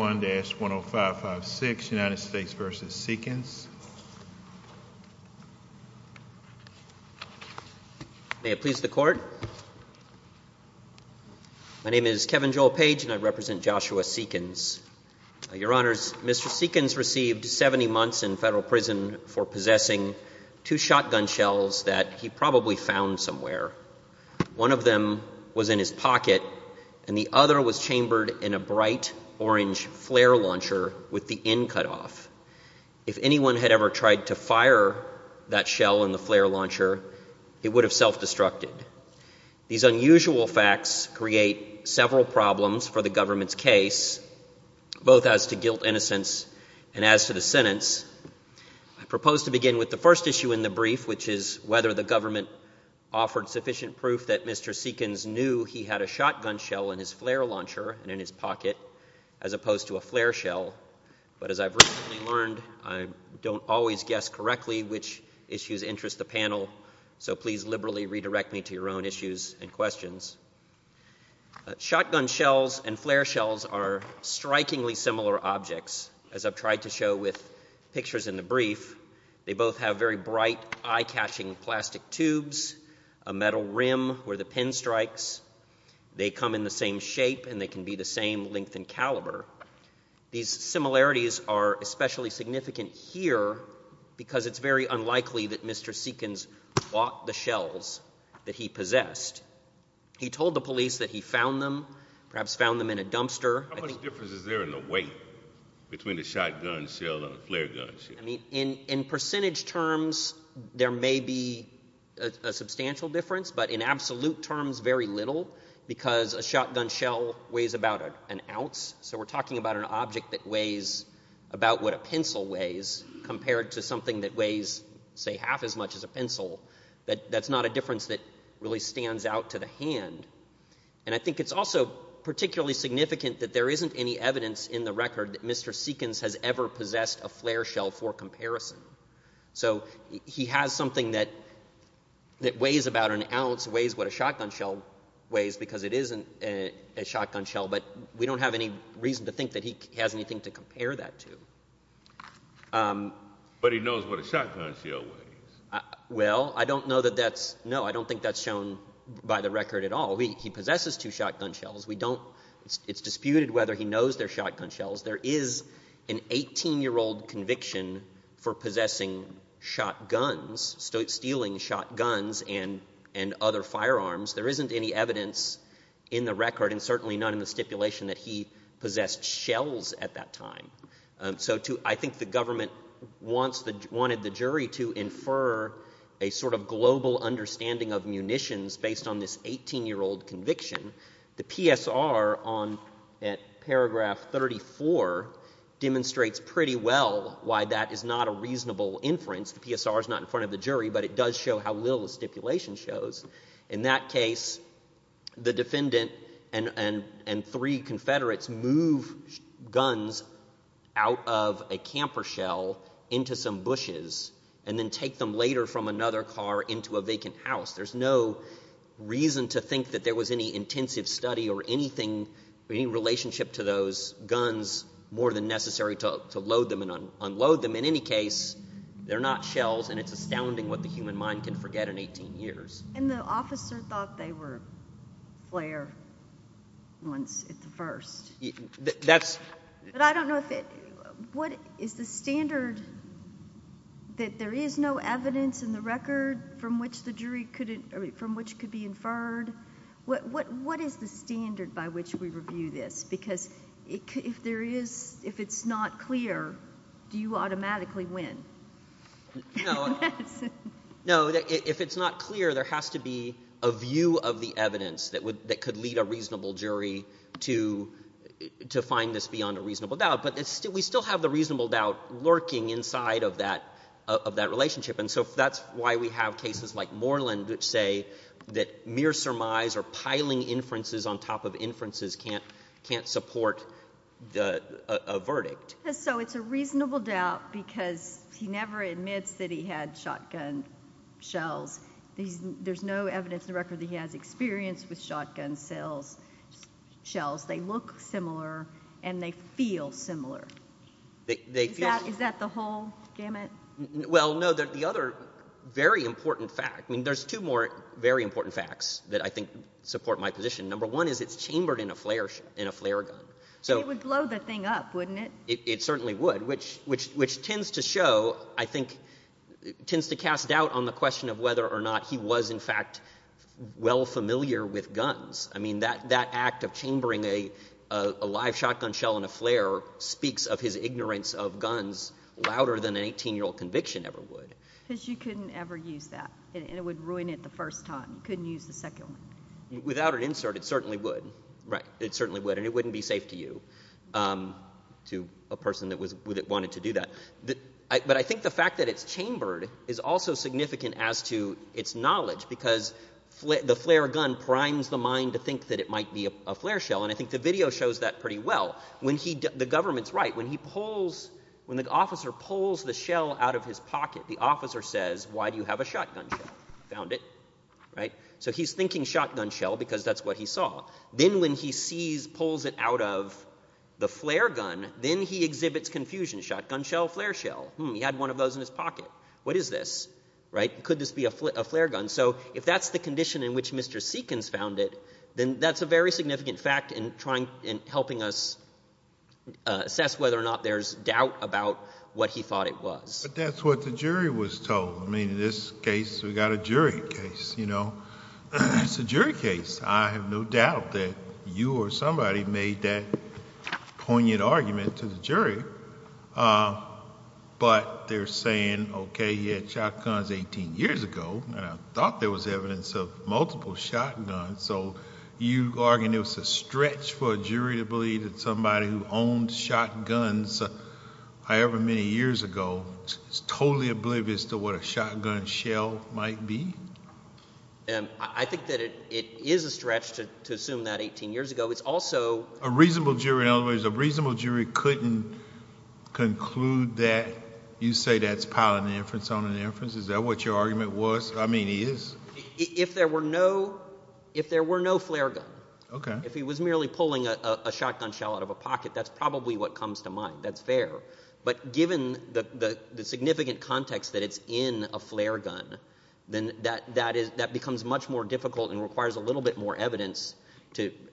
United States v. Seekins. May it please the Court. My name is Kevin Joel Page and I represent Joshua Seekins. Your Honors, Mr. Seekins received 70 months in federal prison for possessing two shotgun shells that he probably found somewhere. One of them was in his pocket and the other was chambered in a bright orange flare launcher with the end cut off. If anyone had ever tried to fire that shell in the flare launcher, it would have self-destructed. These unusual facts create several problems for the government's case, both as to guilt, innocence and as to the sentence. I propose to begin with the first issue in the brief, which is whether the government offered sufficient proof that Mr. Seekins knew he had a shotgun shell in his flare launcher and in his pocket, as opposed to a flare shell. But as I've recently learned, I don't always guess correctly which issues interest the panel, so please liberally redirect me to your own issues and questions. Shotgun shells and flare shells are strikingly similar objects, as I've tried to show with pictures in the brief. They both have very much the same shape and they can be the same length and caliber. These similarities are especially significant here because it's very unlikely that Mr. Seekins bought the shells that he possessed. He told the police that he found them, perhaps found them in a dumpster. How much difference is there in the weight between a shotgun shell and a flare gun shell? In percentage terms, there may be a substantial difference, but in absolute terms, very little because a shotgun shell weighs about an ounce. So we're talking about an object that weighs about what a pencil weighs compared to something that weighs, say, half as much as a pencil. That's not a difference that really stands out to the hand. And I think it's also particularly significant that there isn't any evidence in the record that Mr. Seekins has ever possessed a flare shell for comparison. So he has something that weighs about an ounce, weighs what a pencil weighs, because it isn't a shotgun shell. But we don't have any reason to think that he has anything to compare that to. But he knows what a shotgun shell weighs. Well, I don't know that that's... No, I don't think that's shown by the record at all. He possesses two shotgun shells. We don't... It's disputed whether he knows they're shotgun shells. There is an 18-year-old conviction for possessing shotguns, stealing shotguns and other firearms. There isn't any evidence in the record, and certainly not in the stipulation, that he possessed shells at that time. So I think the government wanted the jury to infer a sort of global understanding of munitions based on this 18-year-old conviction. The PSR on paragraph 34 demonstrates pretty well why that is not a reasonable inference. The stipulation shows. In that case, the defendant and three Confederates move guns out of a camper shell into some bushes and then take them later from another car into a vacant house. There's no reason to think that there was any intensive study or anything, any relationship to those guns more than necessary to load them and unload them. In any case, they're not shells, and it's astounding what the human mind can forget in 18 years. And the officer thought they were flare ones at the first. I don't know if it... What is the standard that there is no evidence in the record from which the jury could... From which could be inferred? What is the standard by which we can infer? No, if it's not clear, there has to be a view of the evidence that could lead a reasonable jury to find this beyond a reasonable doubt. But we still have the reasonable doubt lurking inside of that relationship. And so that's why we have cases like Moreland which say that mere surmise or piling inferences on top of inferences can't support a verdict. So it's a reasonable doubt because he never admits that he had shotgun shells. There's no evidence in the record that he has experience with shotgun shells. They look similar and they feel similar. Is that the whole gamut? Well, no. The other very important fact... I mean, there's two more very important facts that I think support my position. Number one is it's chambered in a flare gun. It would blow the thing up, wouldn't it? It certainly would, which tends to show, I think, tends to cast doubt on the question of whether or not he was, in fact, well familiar with guns. I mean, that act of chambering a live shotgun shell in a flare speaks of his ignorance of guns louder than an 18-year-old conviction ever would. Because you couldn't ever use that and it would ruin it the first time. You couldn't use the second one. Without an insert, it certainly would. It certainly would. And it wouldn't be safe to you, to a person that wanted to do that. But I think the fact that it's chambered is also significant as to its knowledge because the flare gun primes the mind to think that it might be a flare shell. And I think the video shows that pretty well. The government's right. When the officer pulls the shell out of his pocket, the officer says, why do you have a shotgun shell? Found it. Right? So he's thinking shotgun shell because that's what he saw. Then when he sees, pulls it out of the flare gun, then he exhibits confusion. Shotgun shell, flare shell. Hmm, he had one of those in his pocket. What is this? Right? Could this be a flare gun? So if that's the condition in which Mr. Seekins found it, then that's a very significant fact in trying, in helping us assess whether or not there's doubt about what he thought it was. But that's what the jury was told. I mean, in this case, we've got a jury case, you know. It's a jury case. I have no doubt that you or somebody made that poignant argument to the jury. But they're saying, okay, he had shotguns 18 years ago, and I thought there was evidence of multiple shotguns. So you argue it was a stretch for a jury to believe that somebody who owned shotguns, however many years ago, is totally oblivious to what a shotgun shell might be? I think that it is a stretch to assume that 18 years ago. It's also... A reasonable jury, in other words, a reasonable jury couldn't conclude that you say that's piling an inference on an inference? Is that what your argument was? I mean, is? If there were no, if there were no flare gun, if he was merely pulling a shotgun shell out of a pocket, that's probably what comes to mind. That's fair. But given the significant context that it's in a flare gun, then that becomes much more difficult and requires a little bit more evidence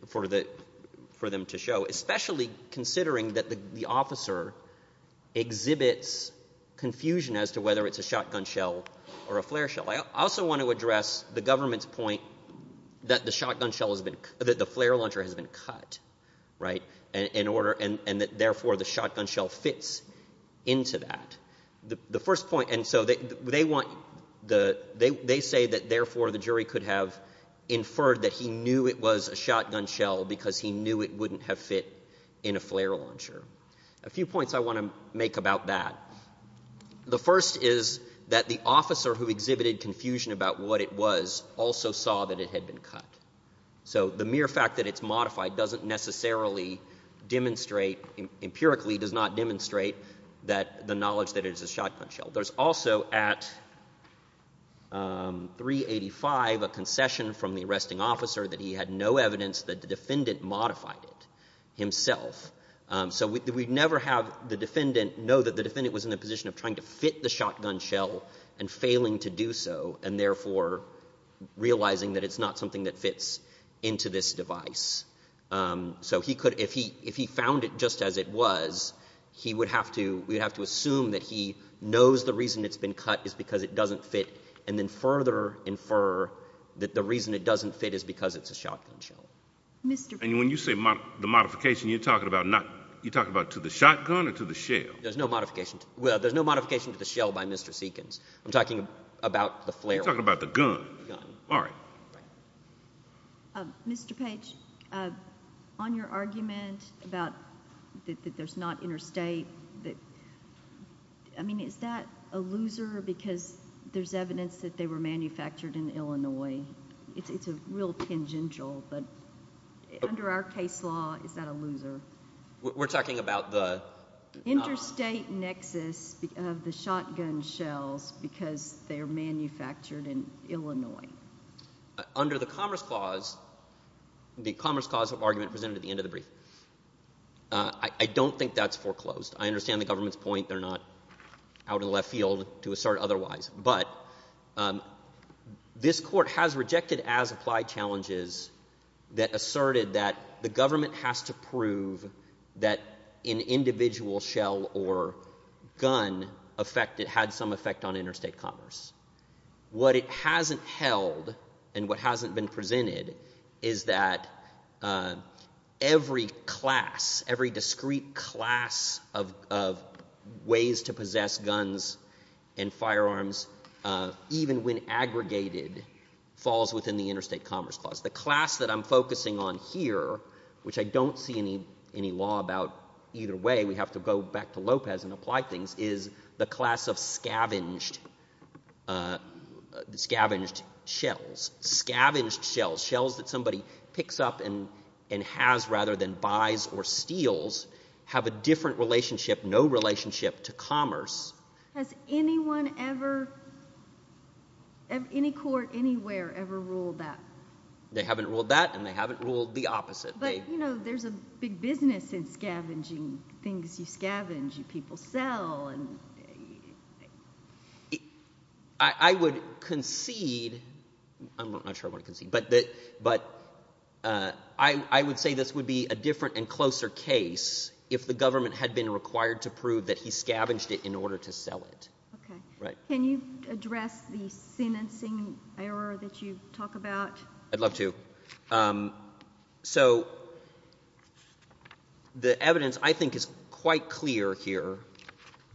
for them to show, especially considering that the officer exhibits confusion as to whether it's a shotgun shell or a flare shell. I also want to address the government's point that the shotgun shell has been, that the flare launcher has been cut, right? In order, and therefore the shotgun shell fits into that. The first point, and so they want, they say that therefore the jury could have inferred that he knew it was a shotgun shell because he knew it wouldn't have fit in a flare launcher. A few points I want to make about that. The first is that the officer who exhibited confusion about what it was also saw that it had been cut. So the mere fact that it's modified doesn't necessarily demonstrate, empirically does not demonstrate that the knowledge that it is a shotgun shell. There's also at 385 a concession from the arresting officer that he had no evidence that the defendant modified it himself. So we'd never have the defendant know that the defendant was in the position of trying to fit the shotgun shell and failing to do so and therefore realizing that it's not something that fits into this device. So he could, if he found it just as it was, he would have to, we would have to assume that he knows the reason it's been cut is because it doesn't fit and then further infer that the reason it doesn't fit is because it's a shotgun shell. And when you say the modification, you're talking about to the shotgun or to the shell? There's no modification to the shell by Mr. Seekins. I'm talking about the flare. You're talking about the gun. Mr. Page, on your argument that there's not interstate, is that a loser because there's manufactured in Illinois? It's a real tangential, but under our case law, is that a loser? We're talking about the... Interstate nexus of the shotgun shells because they're manufactured in Illinois. Under the Commerce Clause, the Commerce Clause argument presented at the end of the brief. I don't think that's foreclosed. I understand the government's point. They're not out in This court has rejected as applied challenges that asserted that the government has to prove that an individual shell or gun had some effect on interstate commerce. What it hasn't held and what hasn't been presented is that every class, every discrete class of ways to possess guns and firearms, even when aggregated, falls within the Interstate Commerce Clause. The class that I'm focusing on here, which I don't see any law about either way, we have to go back to Lopez and apply things, is the class of scavenged shells. Scavenged shells, shells that somebody picks up and has rather than buys or steals, have a different relationship, no relationship, to commerce. Has anyone ever, any court anywhere, ever ruled that? They haven't ruled that and they haven't ruled the opposite. But there's a big business in scavenging things you scavenge, you people sell. I would concede, I'm not sure I want to concede, but I would say this would be a different and closer case if the government had been required to prove that he scavenged it in order to sell it. Can you address the sentencing error that you talk about? I'd love to. So the evidence I think is quite clear here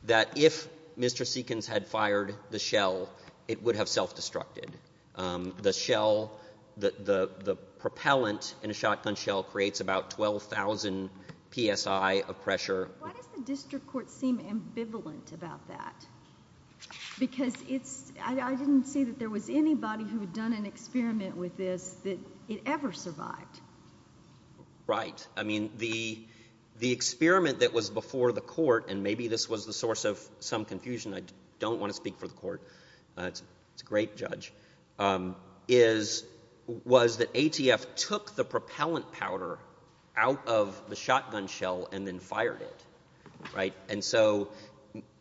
that if Mr. Seekins had fired the shell, it would have self-destructed. The shell, the propellant in a shotgun shell creates about 12,000 psi of pressure. Why does the district court seem ambivalent about that? Because I didn't see that there was anybody who had done an experiment with this that it ever survived. Right. I mean the experiment that was before the court, and maybe this was the source of some confusion, I don't want to speak for the court, it's a great judge, was that ATF took the propellant powder out of the shotgun shell and then fired it. And so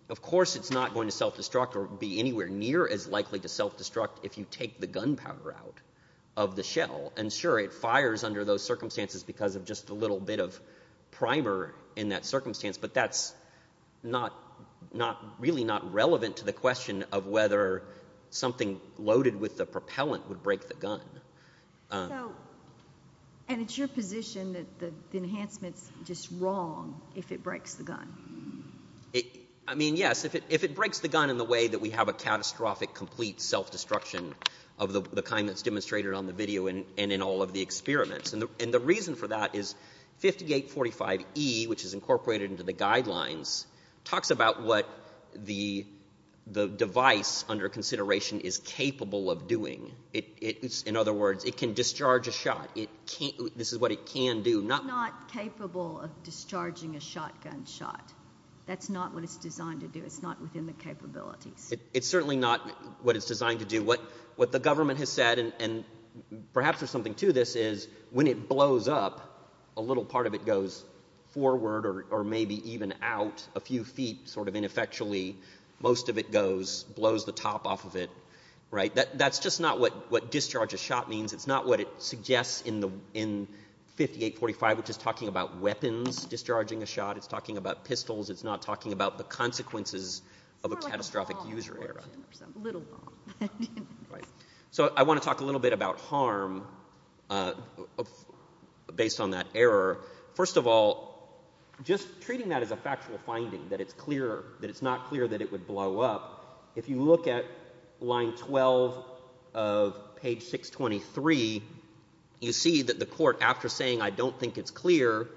of course it's not going to self-destruct or be anywhere near as likely to self-destruct if you take the gunpowder out of the shell. And sure, it fires under those circumstances because of just a little bit of primer in that circumstance, but that's really not relevant to the question of whether something loaded with the propellant would break the gun. And it's your position that the enhancement's just wrong if it breaks the gun? I mean yes, if it breaks the gun in the way that we have a catastrophic complete self-destruction of the kind that's demonstrated on the video and in all of the experiments. And the reason for that is 5845E, which is incorporated into the guidelines, talks about what the device under consideration is capable of doing. In other words, it can discharge a shot. This is what it can do. It's not capable of discharging a shotgun shot. That's not what it's designed to do. It's not within the capabilities. It's certainly not what it's designed to do. What the government has said, and perhaps there's something to this, is when it blows up, a little part of it goes forward or maybe even out a few feet sort of ineffectually. Most of it goes, blows the top off of it. That's just not what discharge a shot means. It's not what it suggests in 5845, which is talking about weapons discharging a shot. It's talking about pistols. It's not talking about the consequences of a catastrophic user error. It's more like a bomb explosion or something, a little bomb. So I want to talk a little bit about harm based on that error. First of all, just treating that as a factual finding, that it's not clear that it would blow up, if you look at line 12 of page 623, you see that the court, after saying I don't think it's clear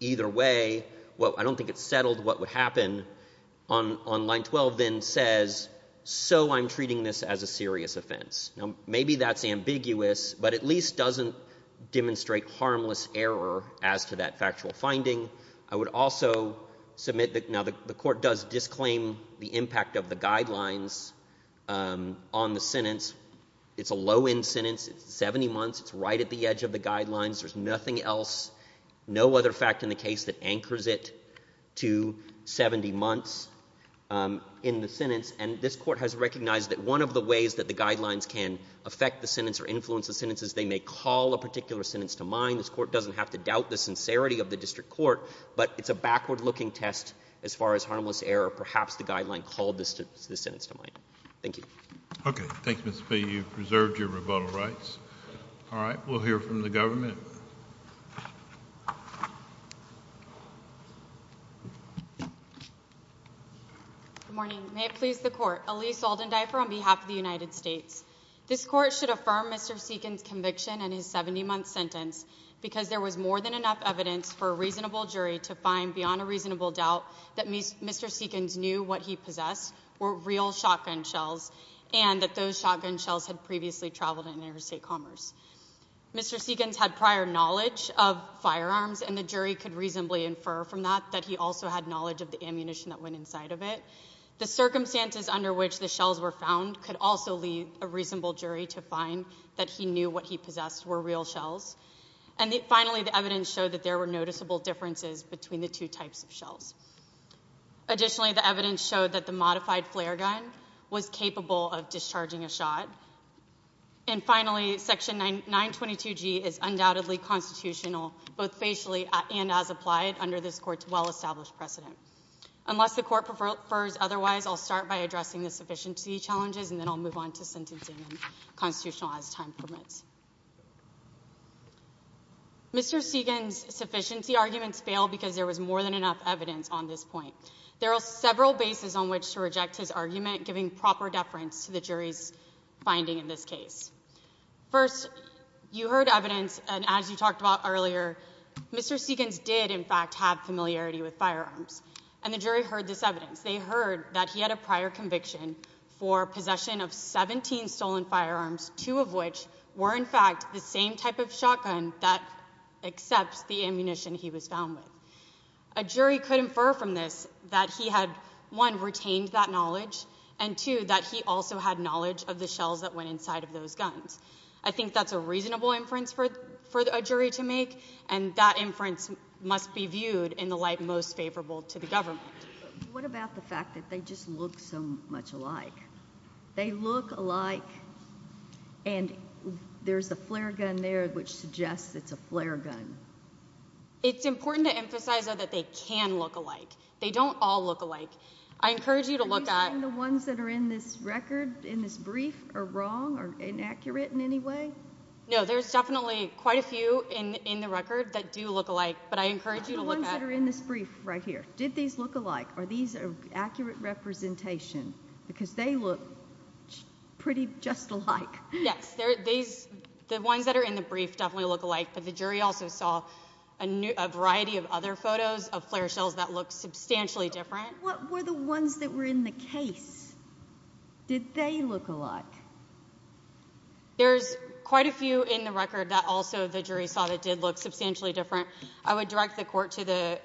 either way, well, I don't think it's settled what would happen, on line 12 then says, so I'm treating this as a serious offense. Now maybe that's ambiguous, but at least doesn't demonstrate harmless error as to that factual finding. I would also submit that now the court does disclaim the impact of the guidelines on the sentence. It's a low end sentence. It's 70 months. It's right at the edge of the guidelines. There's nothing else, no other fact in the case that anchors it to 70 months in the sentence. And this court has recognized that one of the ways that the guidelines can affect the sentence or influence the sentence is they may call a particular sentence to mind. This court doesn't have to doubt the sincerity of the district court, but it's a backward looking test as far as harmless error. Perhaps the guideline called the sentence to mind. Thank you. Okay. Thanks, Mr. Fee. You've preserved your rebuttal rights. All right. We'll hear from the government. Good morning. May it please the Court. Elise Alden-Dyfer on behalf of the United States. This court should affirm Mr. Seekins' conviction in his 70 month sentence because there was more than enough evidence for a reasonable jury to find beyond a reasonable doubt that Mr. Seekins knew what he possessed were real shotgun shells and that those shotgun shells had previously traveled in interstate commerce. Mr. Seekins had prior knowledge of firearms and the jury could reasonably infer from that that he also had knowledge of the ammunition that went inside of it. The circumstances under which the shells were found could also lead a reasonable jury to find that he knew what he possessed were real shells. And finally, the evidence showed that there were noticeable differences between the two types of shells. Additionally, the evidence showed that the modified flare gun was capable of discharging a shot. And finally, Section 922G is undoubtedly constitutional, both facially and as applied under this court's well-established precedent. Unless the court prefers otherwise, I'll start by addressing the sufficiency challenges and then I'll move on to sentencing and constitutional as time permits. Mr. Seekins' sufficiency arguments failed because there was more than enough evidence on this point. There are several bases on which to reject his argument, giving proper deference to the jury's finding in this case. First, you heard evidence and as you talked about earlier, Mr. Seekins did in fact have familiarity with firearms. And the jury heard this evidence. They heard that he had a prior conviction for possession of 17 stolen firearms, two of which were in fact the same type of shotgun that accepts the ammunition he was found with. A jury could infer from this that he had, one, retained that knowledge, and two, that he also had knowledge of the shells that went inside of those guns. I think that's a reasonable inference for a jury to make and that inference must be viewed in the light most favorable to the government. What about the fact that they just look so much alike? They look alike and there's a flare gun there which suggests it's a flare gun. It's important to emphasize that they can look alike. They don't all look alike. I encourage you to look at— Are you saying the ones that are in this record, in this brief, are wrong or inaccurate in any way? No, there's definitely quite a few in the record that do look alike, but I encourage you to look at— What about the ones that are in this brief right here? Did these look alike? Are these an accurate representation? Because they look pretty just alike. Yes, the ones that are in the brief definitely look alike, but the jury also saw a variety of other photos of flare shells that look substantially different. What were the ones that were in the case? Did they look alike? There's quite a few in the record that also the jury saw that did look substantially different. I would direct the court to the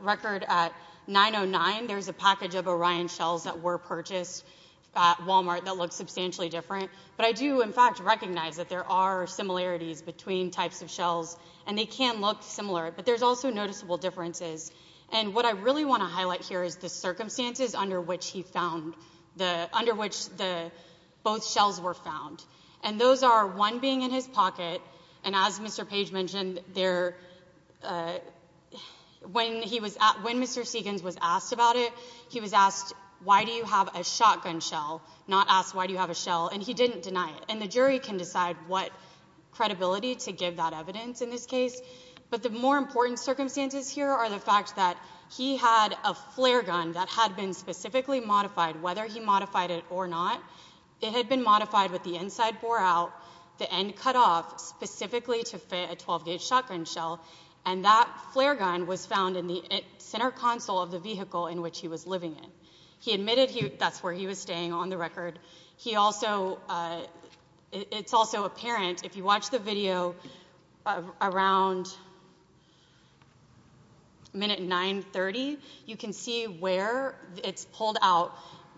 record at 909. There's a package of Orion shells that were purchased at Walmart that looked substantially different, but I do, in fact, recognize that there are similarities between types of shells, and they can look similar, but there's also noticeable differences. What I really want to highlight here is the circumstances under which he found— under which both shells were found, and those are one being in his pocket, and as Mr. Page mentioned, when Mr. Seegans was asked about it, he was asked, why do you have a shotgun shell, not asked why do you have a shell, and he didn't deny it. The jury can decide what credibility to give that evidence in this case, but the more important circumstances here are the fact that he had a flare gun that had been specifically modified, whether he modified it or not. It had been modified with the inside bore out, the end cut off, specifically to fit a 12-gauge shotgun shell, and that flare gun was found in the center console of the vehicle in which he was living in. He admitted that's where he was staying on the record. He also—it's also apparent, if you watch the video around minute 930, you can see where it's pulled out,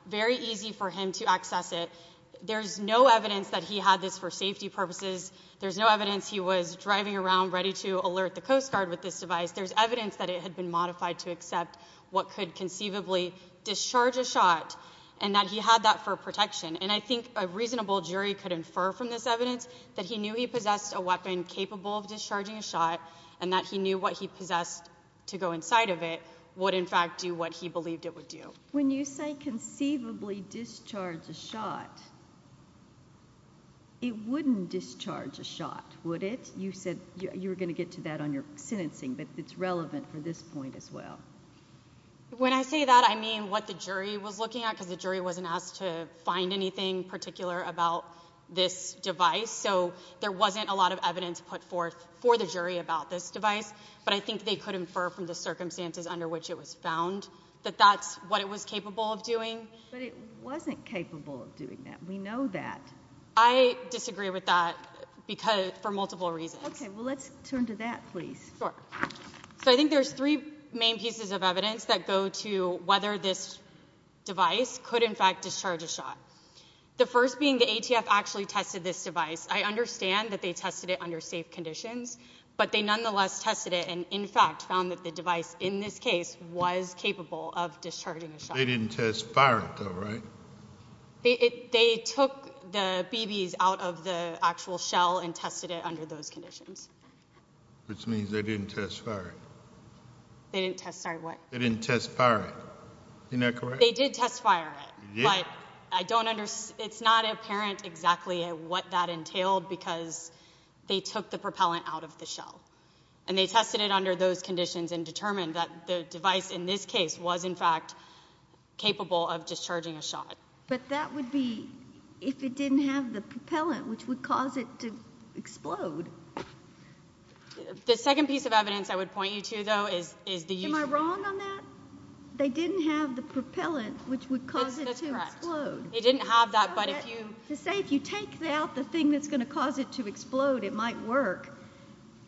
very easy for him to access it. There's no evidence that he had this for safety purposes. There's no evidence he was driving around ready to alert the Coast Guard with this device. There's evidence that it had been modified to accept what could conceivably discharge a shot and that he had that for protection, and I think a reasonable jury could infer from this evidence that he knew he possessed a weapon capable of discharging a shot and that he knew what he possessed to go inside of it would, in fact, do what he believed it would do. When you say conceivably discharge a shot, it wouldn't discharge a shot, would it? You said you were going to get to that on your sentencing, but it's relevant for this point as well. When I say that, I mean what the jury was looking at, because the jury wasn't asked to find anything particular about this device, so there wasn't a lot of evidence put forth for the jury about this device, but I think they could infer from the circumstances under which it was found that that's what it was capable of doing. But it wasn't capable of doing that. We know that. I disagree with that for multiple reasons. Okay. Well, let's turn to that, please. Sure. So I think there's three main pieces of evidence that go to whether this device could, in fact, discharge a shot. The first being the ATF actually tested this device. I understand that they tested it under safe conditions, but they nonetheless tested it and, in fact, found that the device, in this case, was capable of discharging a shot. They didn't test-fire it, though, right? They took the BBs out of the actual shell and tested it under those conditions. Which means they didn't test-fire it. They didn't test-fire what? They didn't test-fire it. Isn't that correct? They did test-fire it, but I don't understand. It's not apparent exactly what that entailed because they took the propellant out of the shell, and they tested it under those conditions and determined that the device, in this case, was, in fact, capable of discharging a shot. But that would be if it didn't have the propellant, which would cause it to explode. The second piece of evidence I would point you to, though, is the use of— Am I wrong on that? They didn't have the propellant, which would cause it to explode. That's correct. They didn't have that, but if you— To say if you take out the thing that's going to cause it to explode, it might work,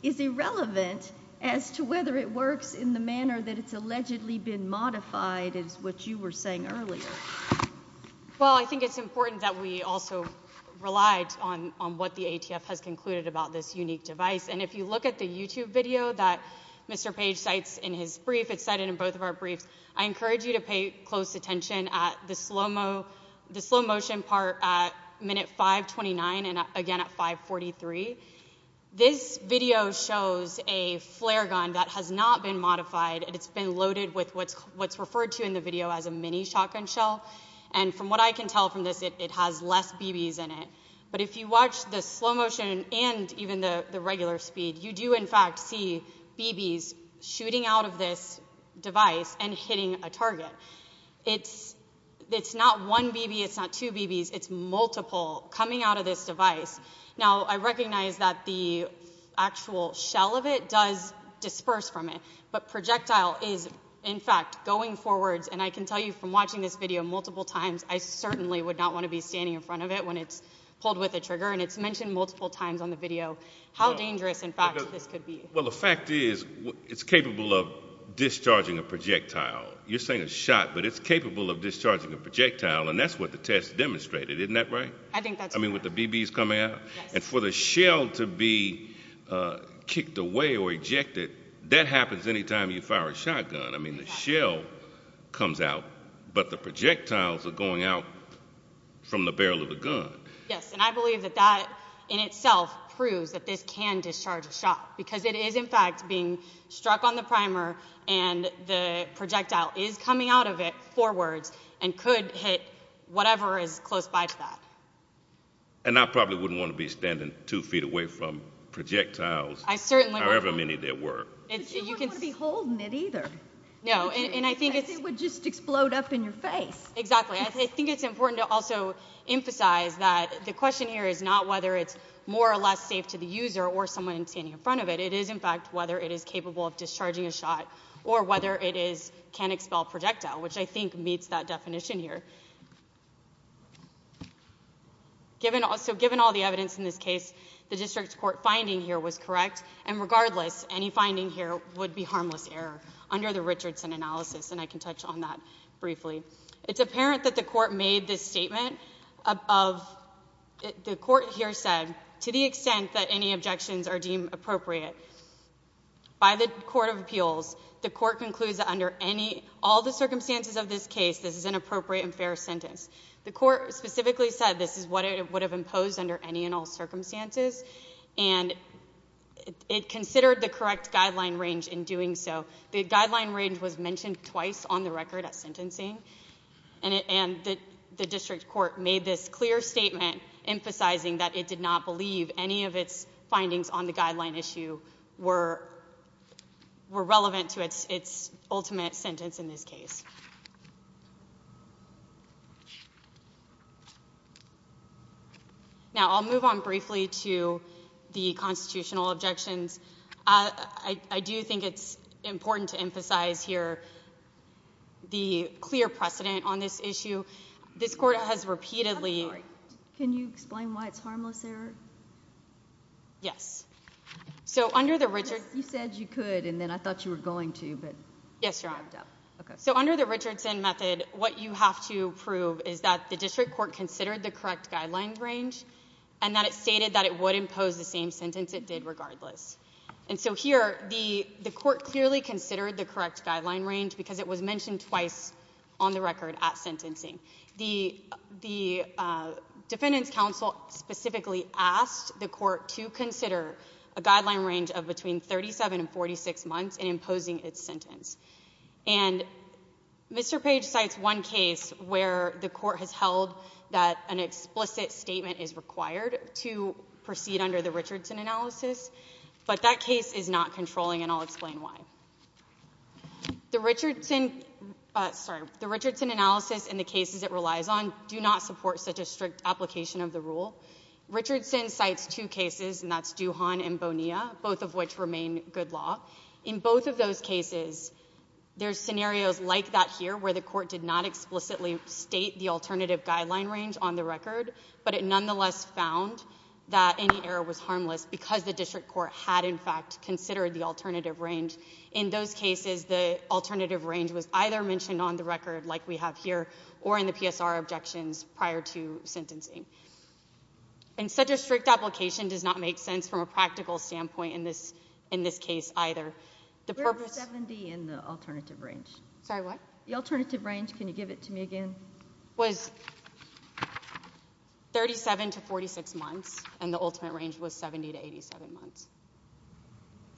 is irrelevant as to whether it works in the manner that it's allegedly been modified, is what you were saying earlier. Well, I think it's important that we also relied on what the ATF has concluded about this unique device. And if you look at the YouTube video that Mr. Page cites in his brief, it's cited in both of our briefs, I encourage you to pay close attention at the slow motion part at minute 529 and again at 543. This video shows a flare gun that has not been modified, and it's been loaded with what's referred to in the video as a mini shotgun shell. And from what I can tell from this, it has less BBs in it. But if you watch the slow motion and even the regular speed, you do in fact see BBs shooting out of this device and hitting a target. It's not one BB, it's not two BBs, it's multiple coming out of this device. Now, I recognize that the actual shell of it does disperse from it, but projectile is in fact going forwards, and I can tell you from watching this video multiple times, I certainly would not want to be standing in front of it when it's pulled with a trigger, and it's mentioned multiple times on the video how dangerous, in fact, this could be. Well, the fact is it's capable of discharging a projectile. You're saying a shot, but it's capable of discharging a projectile, and that's what the test demonstrated, isn't that right? I think that's right. I mean with the BBs coming out? Yes. And for the shell to be kicked away or ejected, that happens any time you fire a shotgun. I mean the shell comes out, but the projectiles are going out from the barrel of the gun. Yes, and I believe that that in itself proves that this can discharge a shot because it is in fact being struck on the primer, and the projectile is coming out of it forwards and could hit whatever is close by to that. And I probably wouldn't want to be standing two feet away from projectiles. I certainly wouldn't. However many there were. But you wouldn't want to be holding it either. No, and I think it's… Because it would just explode up in your face. Exactly. I think it's important to also emphasize that the question here is not whether it's more or less safe to the user or someone standing in front of it. It is in fact whether it is capable of discharging a shot or whether it can expel projectile, which I think meets that definition here. So given all the evidence in this case, the district court finding here was correct, and regardless, any finding here would be harmless error under the Richardson analysis, and I can touch on that briefly. It's apparent that the court made this statement of, the court here said, to the extent that any objections are deemed appropriate by the court of appeals, the court concludes that under all the circumstances of this case, this is an appropriate and fair sentence. The court specifically said this is what it would have imposed under any and all circumstances, and it considered the correct guideline range in doing so. The guideline range was mentioned twice on the record at sentencing, and the district court made this clear statement emphasizing that it did not believe any of its findings on the guideline issue were relevant to its ultimate sentence in this case. Now I'll move on briefly to the constitutional objections. I do think it's important to emphasize here the clear precedent on this issue. This court has repeatedly... Can you explain why it's harmless error? Yes. You said you could, and then I thought you were going to, but you wrapped up. Yes, Your Honor. So under the Richardson method, what you have to prove is that the district court considered the correct guideline range and that it stated that it would impose the same sentence it did regardless. And so here the court clearly considered the correct guideline range because it was mentioned twice on the record at sentencing. The defendants' counsel specifically asked the court to consider a guideline range of between 37 and 46 months in imposing its sentence. And Mr. Page cites one case where the court has held that an explicit statement is required to proceed under the Richardson analysis, but that case is not controlling, and I'll explain why. The Richardson analysis and the cases it relies on do not support such a strict application of the rule. Richardson cites two cases, and that's Duhon and Bonilla, both of which remain good law. In both of those cases, there's scenarios like that here where the court did not explicitly state the alternative guideline range on the record, but it nonetheless found that any error was harmless because the district court had in fact considered the alternative range. In those cases, the alternative range was either mentioned on the record like we have here or in the PSR objections prior to sentencing. And such a strict application does not make sense from a practical standpoint in this case either. We're at 70 in the alternative range. Sorry, what? The alternative range. Can you give it to me again? Was 37 to 46 months, and the ultimate range was 70 to 87 months.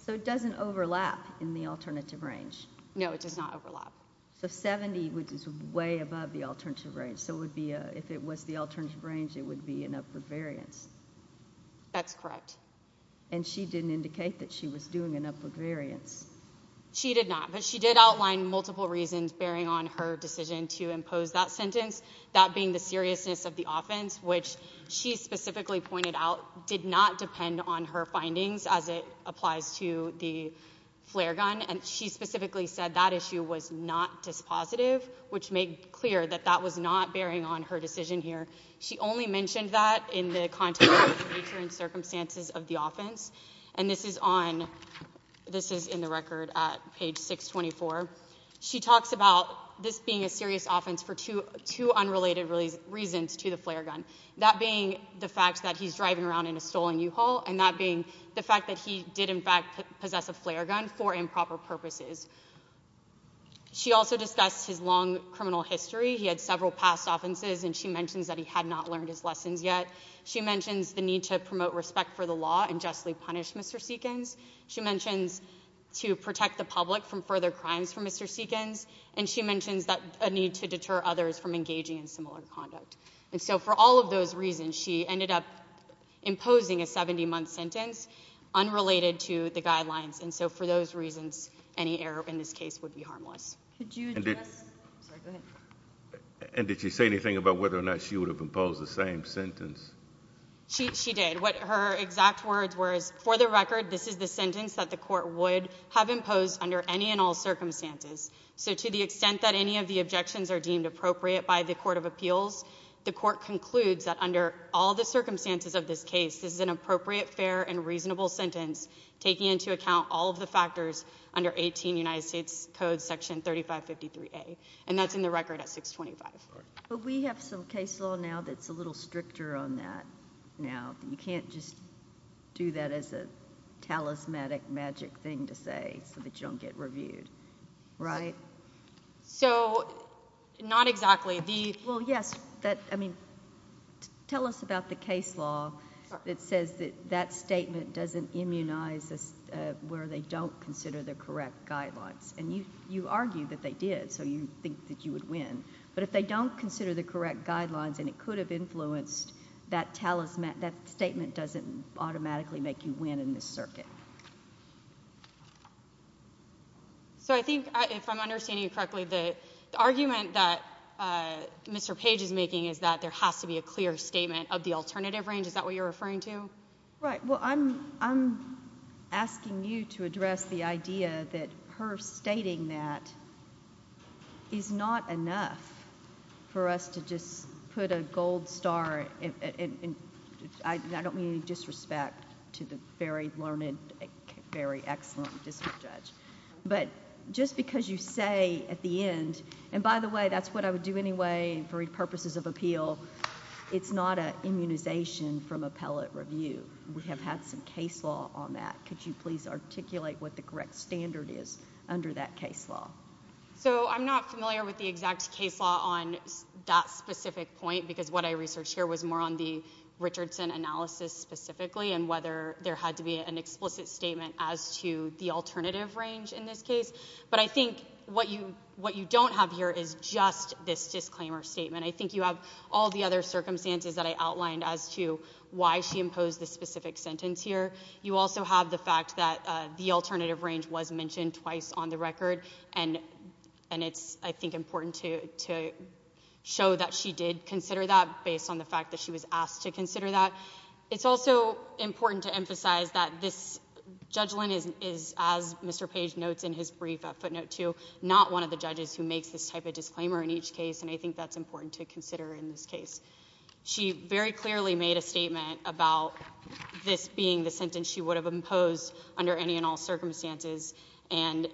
So it doesn't overlap in the alternative range? No, it does not overlap. So 70, which is way above the alternative range, so if it was the alternative range, it would be an upward variance. That's correct. And she didn't indicate that she was doing an upward variance. She did not, but she did outline multiple reasons bearing on her decision to impose that sentence, that being the seriousness of the offense, which she specifically pointed out did not depend on her findings as it applies to the flare gun, and she specifically said that issue was not dispositive, which made clear that that was not bearing on her decision here. She only mentioned that in the context of the future and circumstances of the offense, and this is in the record at page 624. She talks about this being a serious offense for two unrelated reasons to the flare gun, that being the fact that he's driving around in a stolen U-Haul and that being the fact that he did, in fact, possess a flare gun for improper purposes. She also discussed his long criminal history. He had several past offenses, and she mentions that he had not learned his lessons yet. She mentions the need to promote respect for the law and justly punish Mr. Seekins. She mentions to protect the public from further crimes for Mr. Seekins, and she mentions a need to deter others from engaging in similar conduct. And so for all of those reasons, she ended up imposing a 70-month sentence unrelated to the guidelines, and so for those reasons, any error in this case would be harmless. And did she say anything about whether or not she would have imposed the same sentence? She did. What her exact words were is, for the record, this is the sentence that the court would have imposed under any and all circumstances. So to the extent that any of the objections are deemed appropriate by the court of appeals, the court concludes that under all the circumstances of this case, this is an appropriate, fair, and reasonable sentence, taking into account all of the factors under 18 United States Code section 3553A, and that's in the record at 625. But we have some case law now that's a little stricter on that now. You can't just do that as a talismanic magic thing to say so that you don't get reviewed, right? So not exactly. Well, yes. I mean, tell us about the case law that says that that statement doesn't immunize where they don't consider the correct guidelines. And you argue that they did, so you think that you would win. But if they don't consider the correct guidelines and it could have influenced, that statement doesn't automatically make you win in this circuit. So I think, if I'm understanding you correctly, the argument that Mr. Page is making is that there has to be a clear statement of the alternative range. Is that what you're referring to? Right. Well, I'm asking you to address the idea that her stating that is not enough for us to just put a gold star. I don't mean any disrespect to the very learned, very excellent district judge. But just because you say at the end, and by the way, that's what I would do anyway for purposes of appeal, it's not an immunization from appellate review. We have had some case law on that. Could you please articulate what the correct standard is under that case law? So I'm not familiar with the exact case law on that specific point, because what I researched here was more on the Richardson analysis specifically and whether there had to be an explicit statement as to the alternative range in this case. But I think what you don't have here is just this disclaimer statement. I think you have all the other circumstances that I outlined as to why she imposed this specific sentence here. You also have the fact that the alternative range was mentioned twice on the record, and it's, I think, important to show that she did consider that based on the fact that she was asked to consider that. It's also important to emphasize that this judgment is, as Mr. Page notes in his brief at footnote two, not one of the judges who makes this type of disclaimer in each case, and I think that's important to consider in this case. She very clearly made a statement about this being the sentence she would have imposed under any and all circumstances, and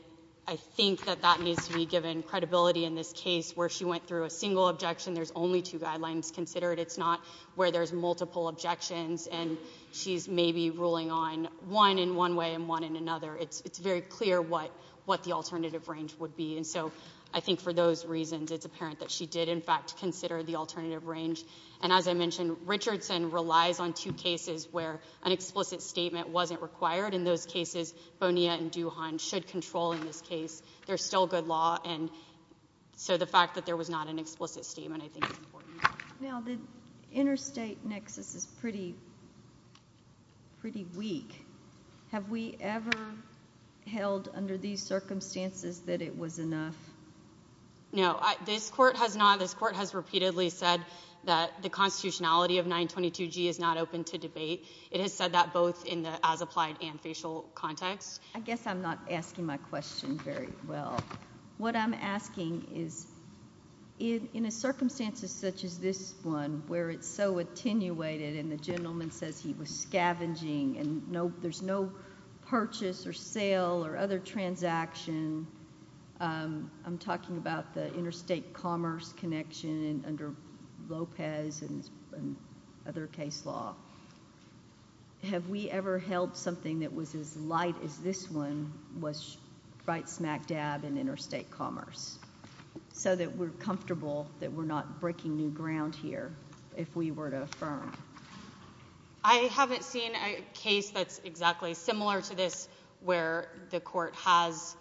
I think that that needs to be given credibility in this case where she went through a single objection. There's only two guidelines considered. It's not where there's multiple objections and she's maybe ruling on one in one way and one in another. It's very clear what the alternative range would be, and so I think for those reasons it's apparent that she did, in fact, consider the alternative range. And as I mentioned, Richardson relies on two cases where an explicit statement wasn't required. In those cases, Bonilla and Duhon should control in this case. There's still good law, and so the fact that there was not an explicit statement I think is important. Now, the interstate nexus is pretty weak. Have we ever held under these circumstances that it was enough? No. This court has not. This court has repeatedly said that the constitutionality of 922G is not open to debate. It has said that both in the as-applied and facial context. I guess I'm not asking my question very well. What I'm asking is in a circumstance such as this one where it's so attenuated and the gentleman says he was scavenging and there's no purchase or sale or other transaction, I'm talking about the interstate commerce connection under Lopez and other case law. Have we ever held something that was as light as this one was right smack dab in interstate commerce so that we're comfortable that we're not breaking new ground here if we were to affirm? I haven't seen a case that's exactly similar to this where the court has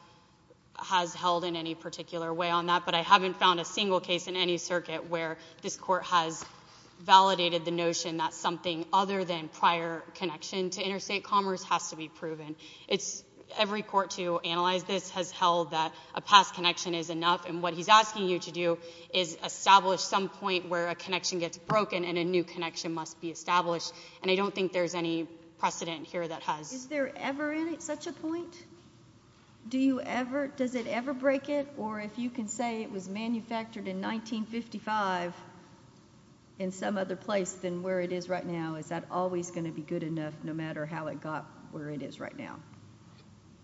held in any particular way on that, but I haven't found a single case in any circuit where this court has validated the notion that something other than prior connection to interstate commerce has to be proven. Every court to analyze this has held that a past connection is enough, and what he's asking you to do is establish some point where a connection gets broken and a new connection must be established, and I don't think there's any precedent here that has. Is there ever such a point? Does it ever break it? Or if you can say it was manufactured in 1955 in some other place than where it is right now, is that always going to be good enough no matter how it got where it is right now?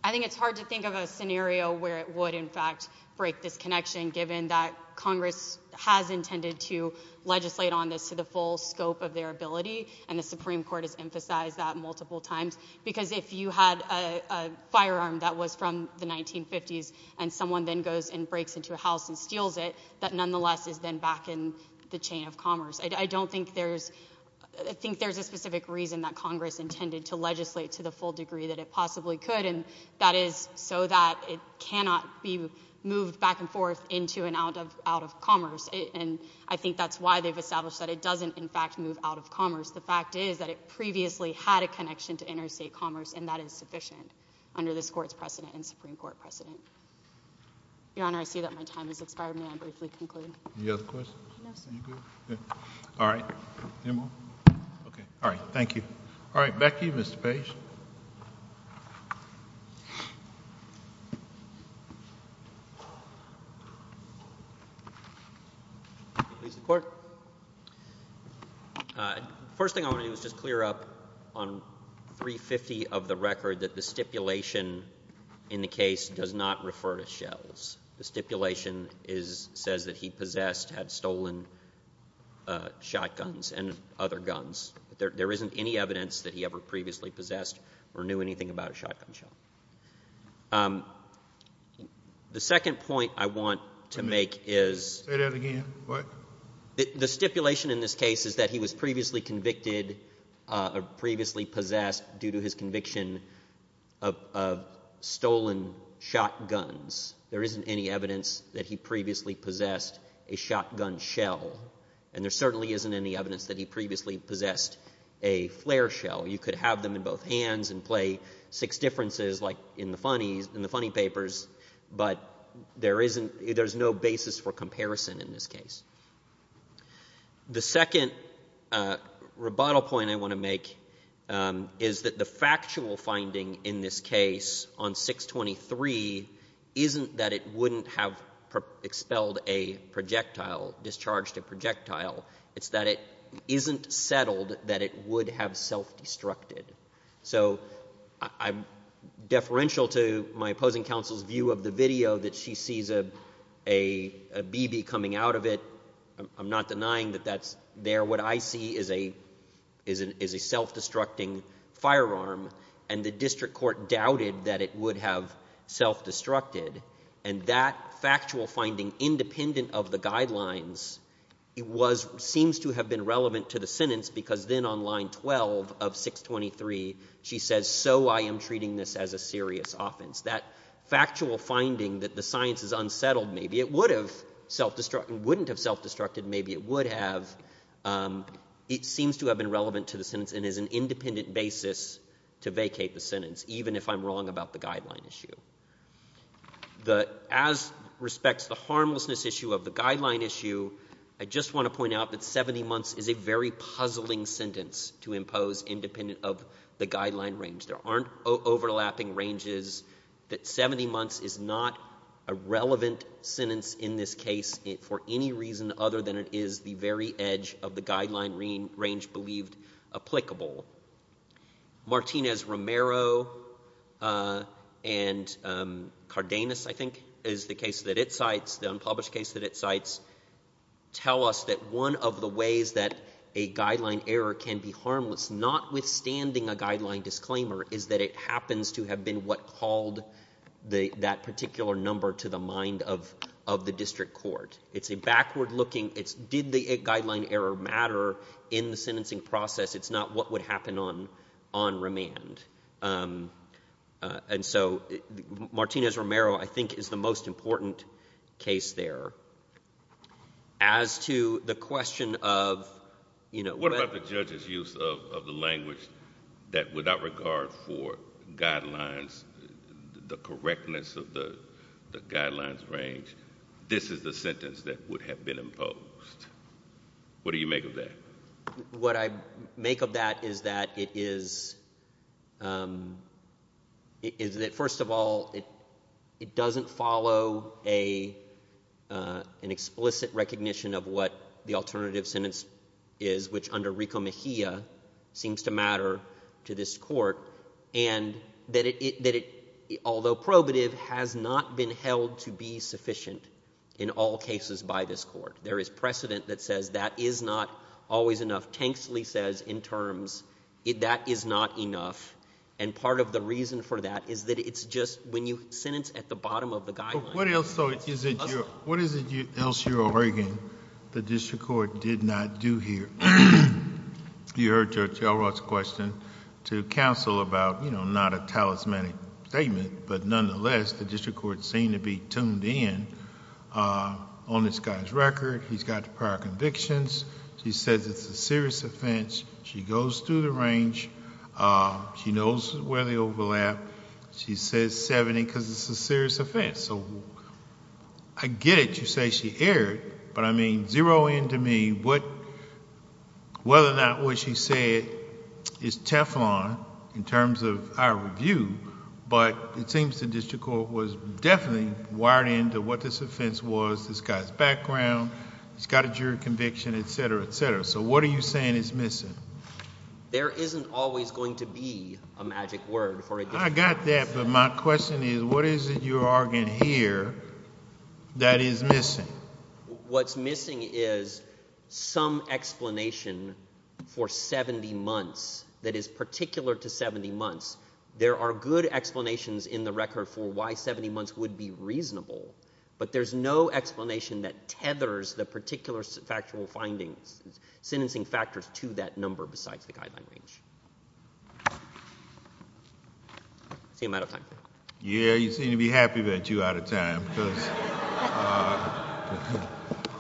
I think it's hard to think of a scenario where it would, in fact, break this connection given that Congress has intended to legislate on this to the full scope of their ability, and the Supreme Court has emphasized that multiple times because if you had a firearm that was from the 1950s and someone then goes and breaks into a house and steals it, that nonetheless is then back in the chain of commerce. I don't think there's a specific reason that Congress intended to legislate to the full degree that it possibly could, and that is so that it cannot be moved back and forth into and out of commerce, and I think that's why they've established that it doesn't, in fact, move out of commerce. The fact is that it previously had a connection to interstate commerce, and that is sufficient under this Court's precedent and Supreme Court precedent. Your Honor, I see that my time has expired. May I briefly conclude? Any other questions? No, sir. All right. Any more? Okay. All right. Thank you. All right, back to you, Mr. Page. Please support. First thing I want to do is just clear up on 350 of the record that the stipulation in the case does not refer to shells. The stipulation says that he possessed, had stolen shotguns and other guns. There isn't any evidence that he ever previously possessed or knew anything about a shotgun shell. The second point I want to make is— Say that again. What? The stipulation in this case is that he was previously convicted or previously possessed due to his conviction of stolen shotguns. There isn't any evidence that he previously possessed a shotgun shell, and there certainly isn't any evidence that he previously possessed a flare shell. You could have them in both hands and play six differences like in the funny papers, but there is no basis for comparison in this case. The second rebuttal point I want to make is that the factual finding in this case on 623 isn't that it wouldn't have expelled a projectile, discharged a projectile. It's that it isn't settled that it would have self-destructed. So I'm deferential to my opposing counsel's view of the video that she sees a BB coming out of it. I'm not denying that that's there. What I see is a self-destructing firearm, and the district court doubted that it would have self-destructed. And that factual finding, independent of the guidelines, seems to have been relevant to the sentence because then on line 12 of 623 she says, so I am treating this as a serious offense. That factual finding that the science is unsettled, maybe it would have self-destructed. Maybe it would have. It seems to have been relevant to the sentence and is an independent basis to vacate the sentence, even if I'm wrong about the guideline issue. As respects to the harmlessness issue of the guideline issue, I just want to point out that 70 months is a very puzzling sentence to impose independent of the guideline range. There aren't overlapping ranges. 70 months is not a relevant sentence in this case for any reason other than it is the very edge of the guideline range believed applicable. Martinez-Romero and Cardenas, I think, is the case that it cites, the unpublished case that it cites, tell us that one of the ways that a guideline error can be harmless, notwithstanding a guideline disclaimer, is that it happens to have been what called that particular number to the mind of the district court. It's a backward looking, it's did the guideline error matter in the sentencing process. It's not what would happen on remand. And so Martinez-Romero, I think, is the most important case there. As to the question of, you know, What about the judge's use of the language that without regard for guidelines, the correctness of the guidelines range, this is the sentence that would have been imposed? What do you make of that? What I make of that is that it is, is that, first of all, it doesn't follow an explicit recognition of what the alternative sentence is, which under Rico Mejia seems to matter to this court, and that it, although probative, has not been held to be sufficient in all cases by this court. There is precedent that says that is not always enough. What Tanksley says in terms, that is not enough. And part of the reason for that is that it's just when you sentence at the bottom of the guideline. What is it else you're arguing the district court did not do here? You heard Judge Elrott's question to counsel about, you know, not a talismanic statement, but nonetheless the district court seemed to be tuned in on this guy's record. He's got prior convictions. He says it's a serious offense. She goes through the range. She knows where they overlap. She says 70 because it's a serious offense. So I get it. You say she erred, but I mean zero in to me whether or not what she said is Teflon in terms of our review, but it seems the district court was definitely wired in to what this offense was, this guy's background, he's got a jury conviction, et cetera, et cetera. So what are you saying is missing? There isn't always going to be a magic word for a district court. I got that, but my question is what is it you're arguing here that is missing? What's missing is some explanation for 70 months that is particular to 70 months. There are good explanations in the record for why 70 months would be reasonable, but there's no explanation that tethers the particular factual findings, sentencing factors to that number besides the guideline range. I seem out of time. Yeah, you seem to be happy that you're out of time because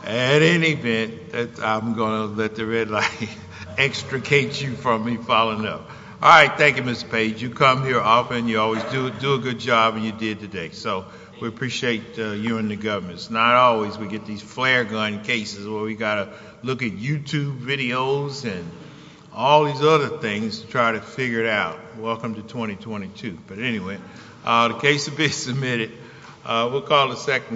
at any event, I'm going to let the red light extricate you from me following up. All right. Thank you, Ms. Page. You come here often. You always do a good job, and you did today. So we appreciate you and the government. It's not always we get these flare gun cases where we've got to look at YouTube videos and all these other things to try to figure it out. Welcome to 2022. But anyway, the case will be submitted. We'll call the second.